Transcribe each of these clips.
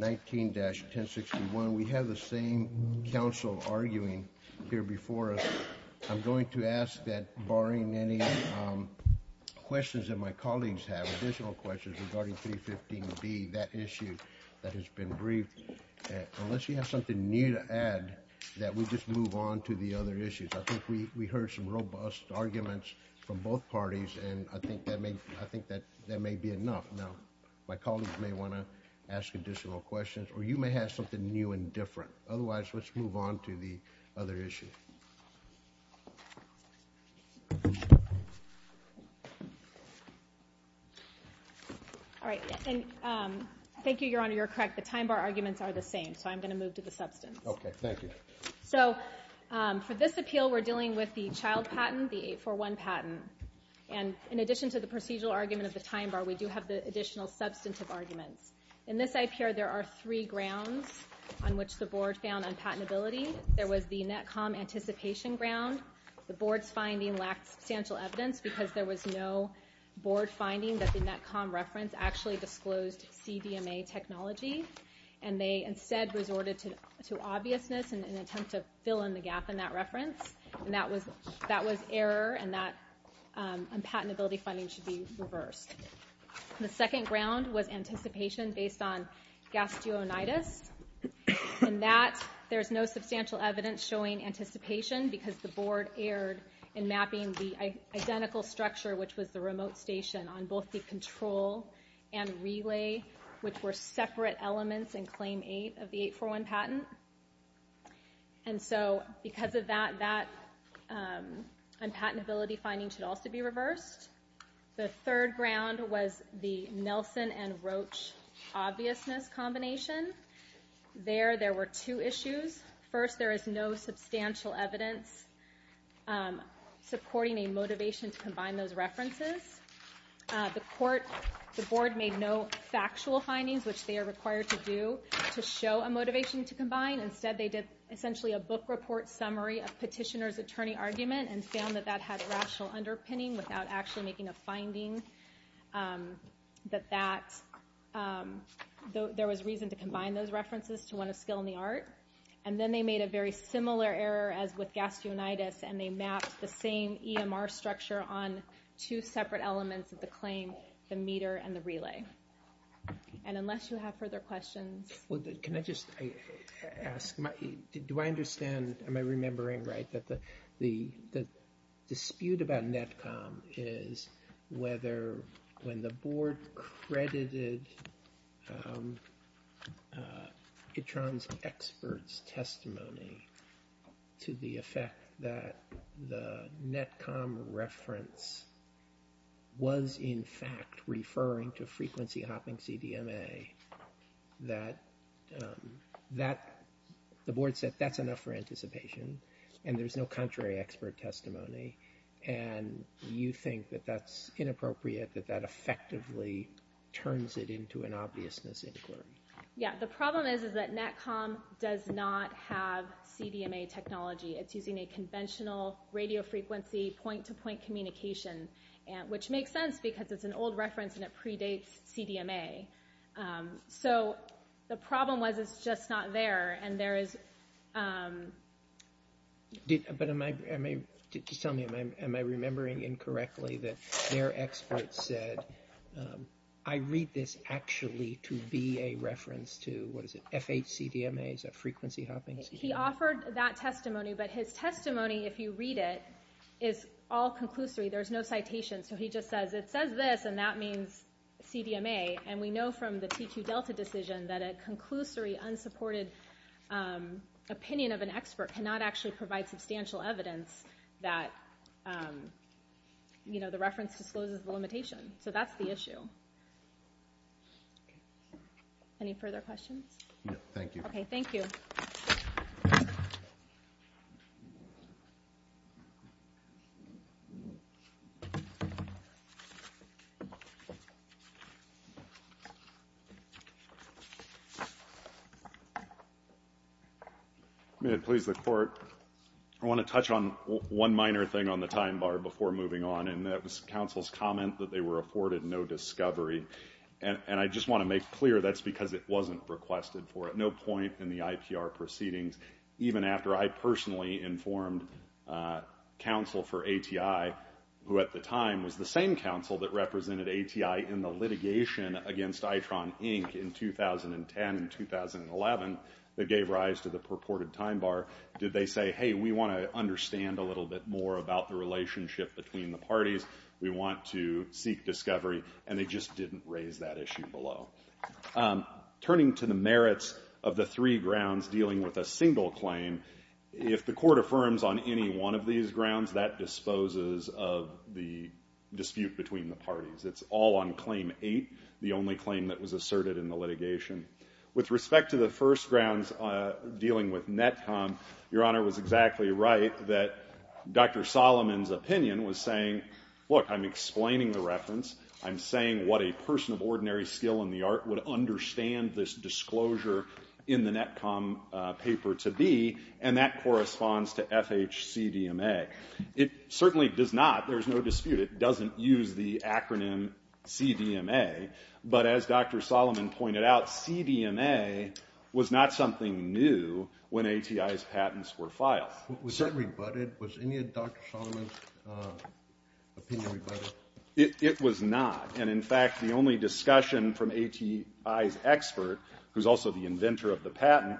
19-1061. We have the same council arguing here before us. I'm going to ask that, barring any questions that my colleagues have, additional questions regarding 315B, that issue that has been briefed, unless you have something new to add, that we just move on to the other issues. I think we heard some robust arguments from both parties and I think that may be enough. Now, my colleagues may want to ask additional questions, or you may have something new and different. Otherwise, let's move on to the other issues. All right. Thank you, Your Honor. You're correct. The time bar arguments are the same, so I'm going to move to the substance. Okay, thank you. So, for this appeal, we're dealing with the child patent, the 841 patent, and in addition to the procedural argument of the time bar, we do have the additional substantive arguments. In this IPR, there are three grounds on which the board found unpatentability. There was the NETCOM anticipation ground. The board's finding lacked substantial evidence because there was no board finding that the NETCOM reference actually disclosed CDMA technology, and they instead resorted to obviousness in an attempt to fill in the gap in that reference, and that was that was error and that unpatentability funding should be reversed. The second ground was anticipation based on gastroenitis, and that there's no substantial evidence showing anticipation because the board erred in mapping the identical structure, which was the remote station, on both the control and relay, which were separate elements in Claim 8 of the 841 patent, and so because of that, that unpatentability finding should also be the Nelson and Roach obviousness combination. There, there were two issues. First, there is no substantial evidence supporting a motivation to combine those references. The court, the board made no factual findings, which they are required to do to show a motivation to combine. Instead, they did essentially a book report summary of petitioner's attorney argument and found that that had rational underpinning without actually making a finding that that there was reason to combine those references to one of skill in the art, and then they made a very similar error as with gastroenitis, and they mapped the same EMR structure on two separate elements of the claim, the meter and the relay. And unless you have further questions... Can I just ask, do I understand, am I confused about NETCOM, is whether when the board credited Itron's expert's testimony to the effect that the NETCOM reference was in fact referring to frequency hopping CDMA, that, that the board said that's enough for you think that that's inappropriate, that that effectively turns it into an obviousness inquiry? Yeah, the problem is, is that NETCOM does not have CDMA technology. It's using a conventional radio frequency point-to-point communication, and which makes sense because it's an old reference and it predates CDMA. So the problem was it's just not there, and there is... But am I, just tell me, am I remembering incorrectly that their expert said, I read this actually to be a reference to, what is it, FH CDMA, is that frequency hopping CDMA? He offered that testimony, but his testimony, if you read it, is all conclusory. There's no citation, so he just says, it says this and that means CDMA, and we know from the TQ Delta decision that a conclusory, unsupported opinion of an expert cannot actually provide substantial evidence that, you know, the reference discloses the limitation. So that's the issue. Any further questions? No, thank you. Okay, thank you. May it please the court, I want to touch on one minor thing on the time bar before moving on, and that was counsel's comment that they were afforded no discovery, and I just want to make clear that's because it wasn't requested for at no point in the IPR proceedings, even after I personally informed counsel for ATI, who at the time was the same counsel that represented ATI in the litigation against the court in 2011 that gave rise to the purported time bar, did they say, hey, we want to understand a little bit more about the relationship between the parties, we want to seek discovery, and they just didn't raise that issue below. Turning to the merits of the three grounds dealing with a single claim, if the court affirms on any one of these grounds, that disposes of the dispute between the parties. It's all on claim eight, the only claim that was asserted in the litigation. With respect to the first grounds dealing with NETCOM, your Honor was exactly right that Dr. Solomon's opinion was saying, look, I'm explaining the reference, I'm saying what a person of ordinary skill in the art would understand this disclosure in the NETCOM paper to be, and that corresponds to FHCDMA. It certainly does not, there's no dispute, it doesn't use the acronym CDMA, but as Dr. Solomon pointed out, CDMA was not something new when ATI's patents were filed. Was that rebutted? Was any of Dr. Solomon's opinion rebutted? It was not, and in fact, the only discussion from ATI's expert, who's also the inventor of the patent,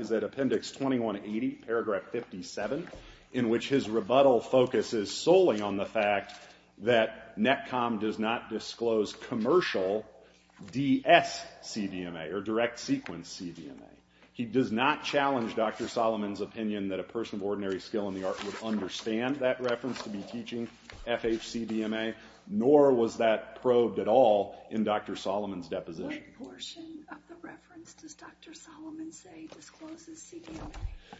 is that Appendix 2180, paragraph 57, in which his rebuttal focuses solely on the fact that NETCOM does not disclose commercial DSCDMA, or direct sequence CDMA. He does not challenge Dr. Solomon's opinion that a person of ordinary skill in the art would understand that reference to be teaching FHCDMA, nor was that probed at all in Dr. Solomon's deposition. What portion of the reference does Dr. Solomon say discloses CDMA?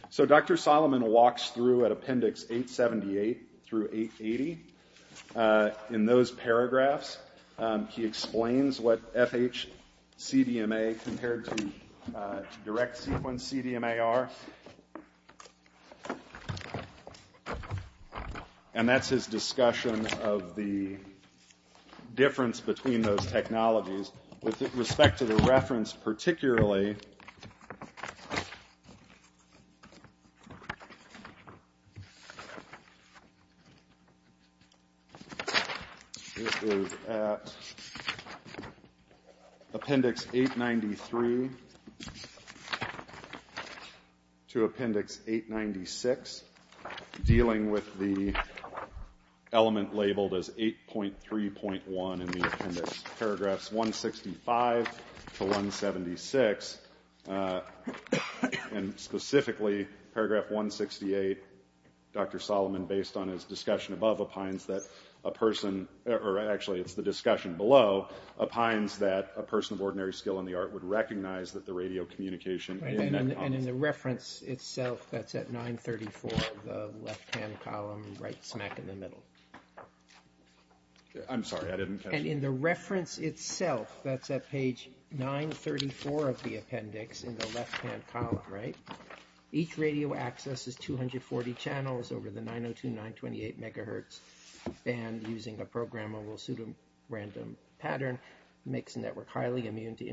So Dr. Solomon walks through at Appendix 878 through 880, in those paragraphs, he explains what FHCDMA compared to direct sequence CDMA are, and that's his discussion of the difference between those technologies with respect to the It is at Appendix 893 to Appendix 896, dealing with the element labeled as 8.3.1 in the Appendix. Paragraphs 165 to 176, and specifically paragraph 168, Dr. Solomon, based on his discussion above, opines that a person, or actually it's the discussion below, opines that a person of ordinary skill in the art would recognize that the radio communication... And in the reference itself, that's at 934, the left-hand column, right smack in the middle. I'm sorry, I didn't catch that. And in the reference itself, that's at page 934 of the appendix, in the left-hand column, right, each radio accesses 240 channels over the 902928 megahertz band using a programmable pseudorandom pattern, makes the network highly immune to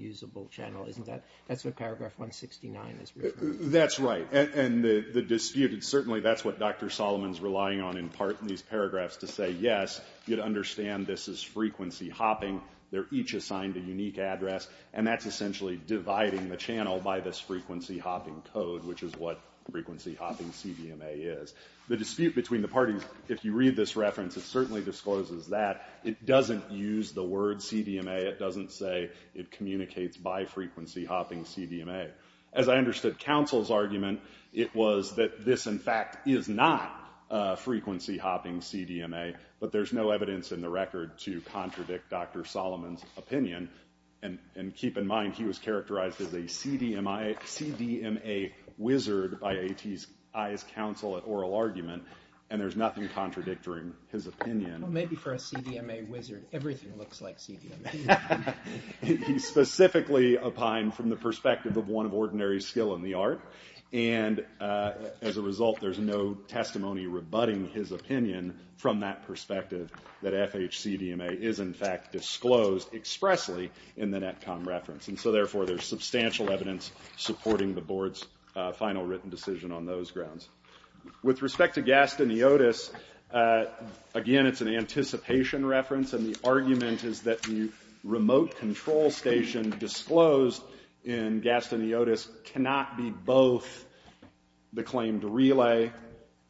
usable channel, isn't that, that's what paragraph 169 is referring to. That's right, and the dispute, and certainly that's what Dr. Solomon's relying on in part in these paragraphs to say, yes, you'd understand this is frequency hopping, they're each assigned a unique address, and that's essentially dividing the channel by this frequency hopping code, which is what frequency hopping CDMA is. The dispute between the parties, if you read this reference, it certainly discloses that. It doesn't use the word CDMA, it doesn't say it communicates by frequency hopping CDMA. As I understood counsel's argument, it was that this in fact is not frequency hopping CDMA, but there's no evidence in the record to contradict Dr. Solomon's opinion, and keep in mind he was characterized as a CDMA wizard by A.T.'s eyes counsel at oral argument, and there's nothing contradicting his opinion. Maybe for a he's specifically opined from the perspective of one of ordinary skill in the art, and as a result there's no testimony rebutting his opinion from that perspective that FHC-DMA is in fact disclosed expressly in the NETCOM reference, and so therefore there's substantial evidence supporting the board's final written decision on those grounds. With respect to Gastoniotis, again it's an anticipation reference, and the argument is that the remote control station disclosed in Gastoniotis cannot be both the claimed relay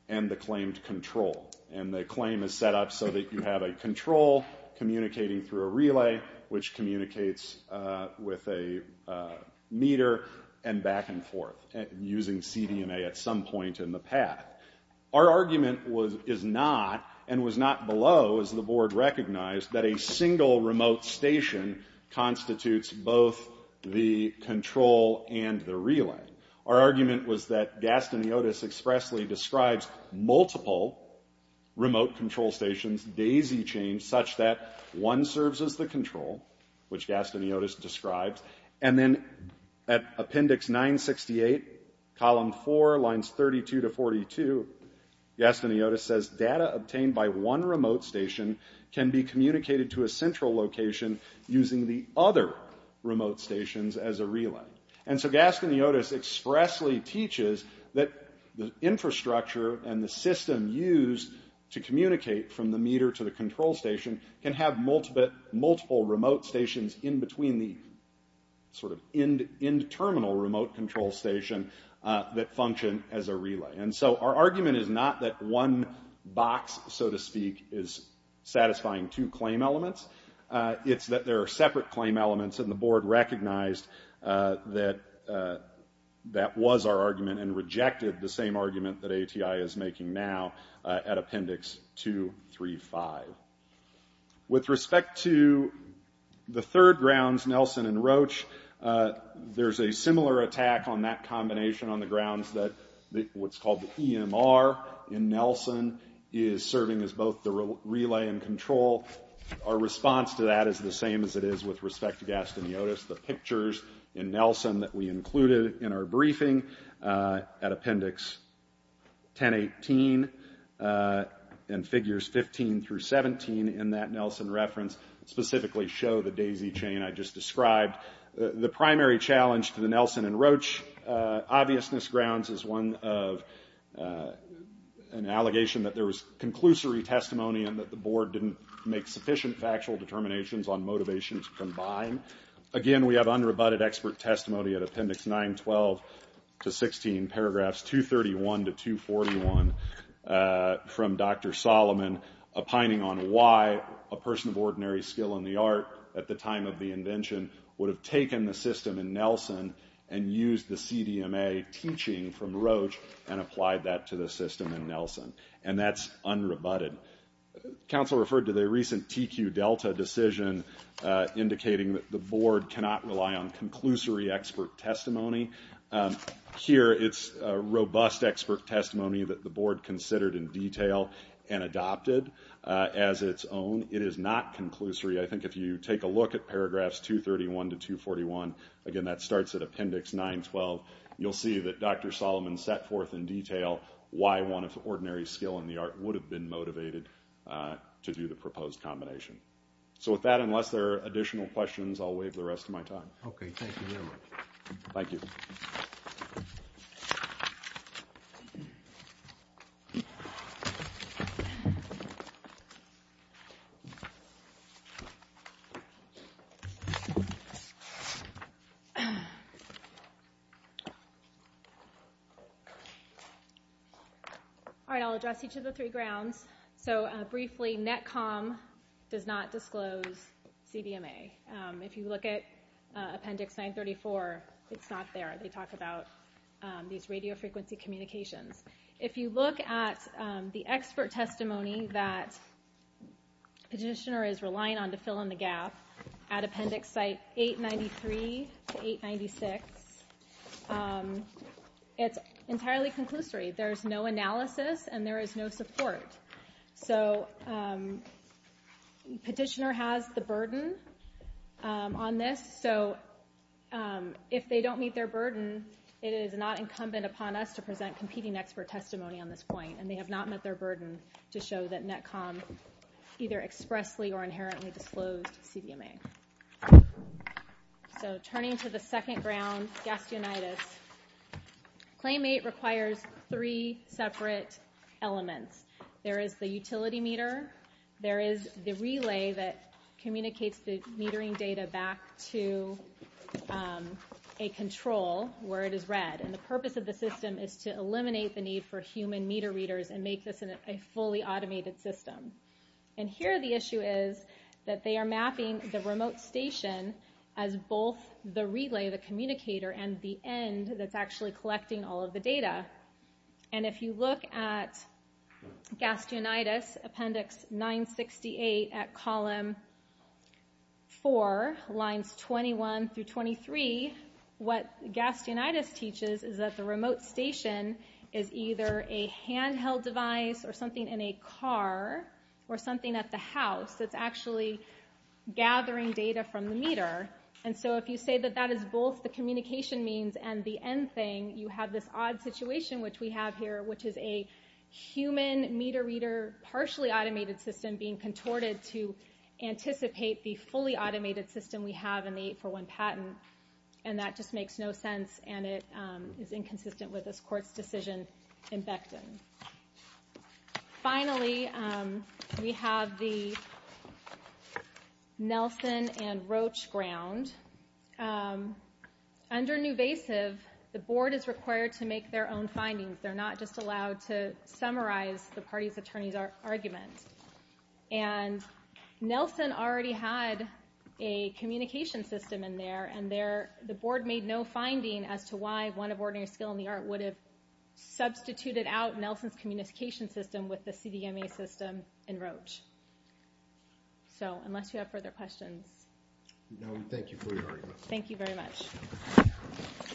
and the claimed control, and the claim is set up so that you have a control communicating through a relay, which communicates with a meter, and back and forth using CDMA at some point in the path. Our argument was is not, and was not below, as the board recognized, that a single remote station constitutes both the control and the relay. Our argument was that Gastoniotis expressly describes multiple remote control stations, daisy-chained, such that one serves as the control, which Gastoniotis describes, and then at appendix 968 column 4, lines 32 to 42, Gastoniotis says data obtained by one remote station can be communicated to a central location using the other remote stations as a relay. And so Gastoniotis expressly teaches that the infrastructure and the system used to communicate from the meter to the control station can have multiple remote stations in between the sort of end terminal remote control station that function as a relay. And so our argument is not that one box, so to speak, is satisfying two claim elements. It's that there are separate claim elements, and the board recognized that that was our argument and rejected the same argument that ATI is making now at appendix 235. With a similar attack on that combination on the grounds that what's called the EMR in Nelson is serving as both the relay and control. Our response to that is the same as it is with respect to Gastoniotis. The pictures in Nelson that we included in our briefing at appendix 1018 and figures 15 through 17 in that Nelson reference specifically show the daisy chain I just described. The primary challenge to the Nelson and Roach obviousness grounds is one of an allegation that there was conclusory testimony and that the board didn't make sufficient factual determinations on motivations combined. Again we have unrebutted expert testimony at appendix 912 to 16 paragraphs 231 to 241 from Dr. Solomon opining on why a person of ordinary skill in the art at the time of the system in Nelson and used the CDMA teaching from Roach and applied that to the system in Nelson. And that's unrebutted. Council referred to the recent TQ Delta decision indicating that the board cannot rely on conclusory expert testimony. Here it's robust expert testimony that the board considered in detail and adopted as its own. It is not conclusory. I think if you take a look at again that starts at appendix 912 you'll see that Dr. Solomon set forth in detail why one of the ordinary skill in the art would have been motivated to do the proposed combination. So with that unless there are additional questions I'll waive the rest of my time. Okay thank you very much. Thank you. All right I'll address each of the three grounds. So briefly NETCOM does not disclose CDMA. If you look at appendix 934 it's not there. They talk about these radio frequency communications. If you look at the expert testimony that petitioner is relying on to fill in the gap at appendix site 893 to 896 it's entirely conclusory. There's no analysis and there is no support. So petitioner has the burden on this so if they don't meet their burden it is not incumbent upon us to present competing expert testimony on this point and they have not met their burden to show that NETCOM either expressly or inherently disclosed CDMA. So turning to the second ground, gastroenteritis. Claim 8 requires three separate elements. There is the utility meter, there is the relay that communicates the metering data back to a control where it is read and the purpose of the system is to eliminate the need for human meter readers and make this a fully automated system. And here the issue is that they are mapping the remote station as both the relay, the communicator, and the end that's actually collecting all of the data. And if you look at gastroenteritis appendix 968 at remote station is either a handheld device or something in a car or something at the house that's actually gathering data from the meter and so if you say that that is both the communication means and the end thing you have this odd situation which we have here which is a human meter reader partially automated system being contorted to anticipate the fully automated system we have in the 841 patent and that just makes no sense and it is inconsistent with this court's decision in Becton. Finally we have the Nelson and Roach ground. Under newvasive the board is required to make their own findings. They're not just allowed to summarize the party's attorney's argument. And Nelson already had a communication system in there and the board made no finding as to why one of ordinary skill in the art would have substituted out Nelson's communication system with the CDMA system in Roach. So unless you have further questions. Thank you very much.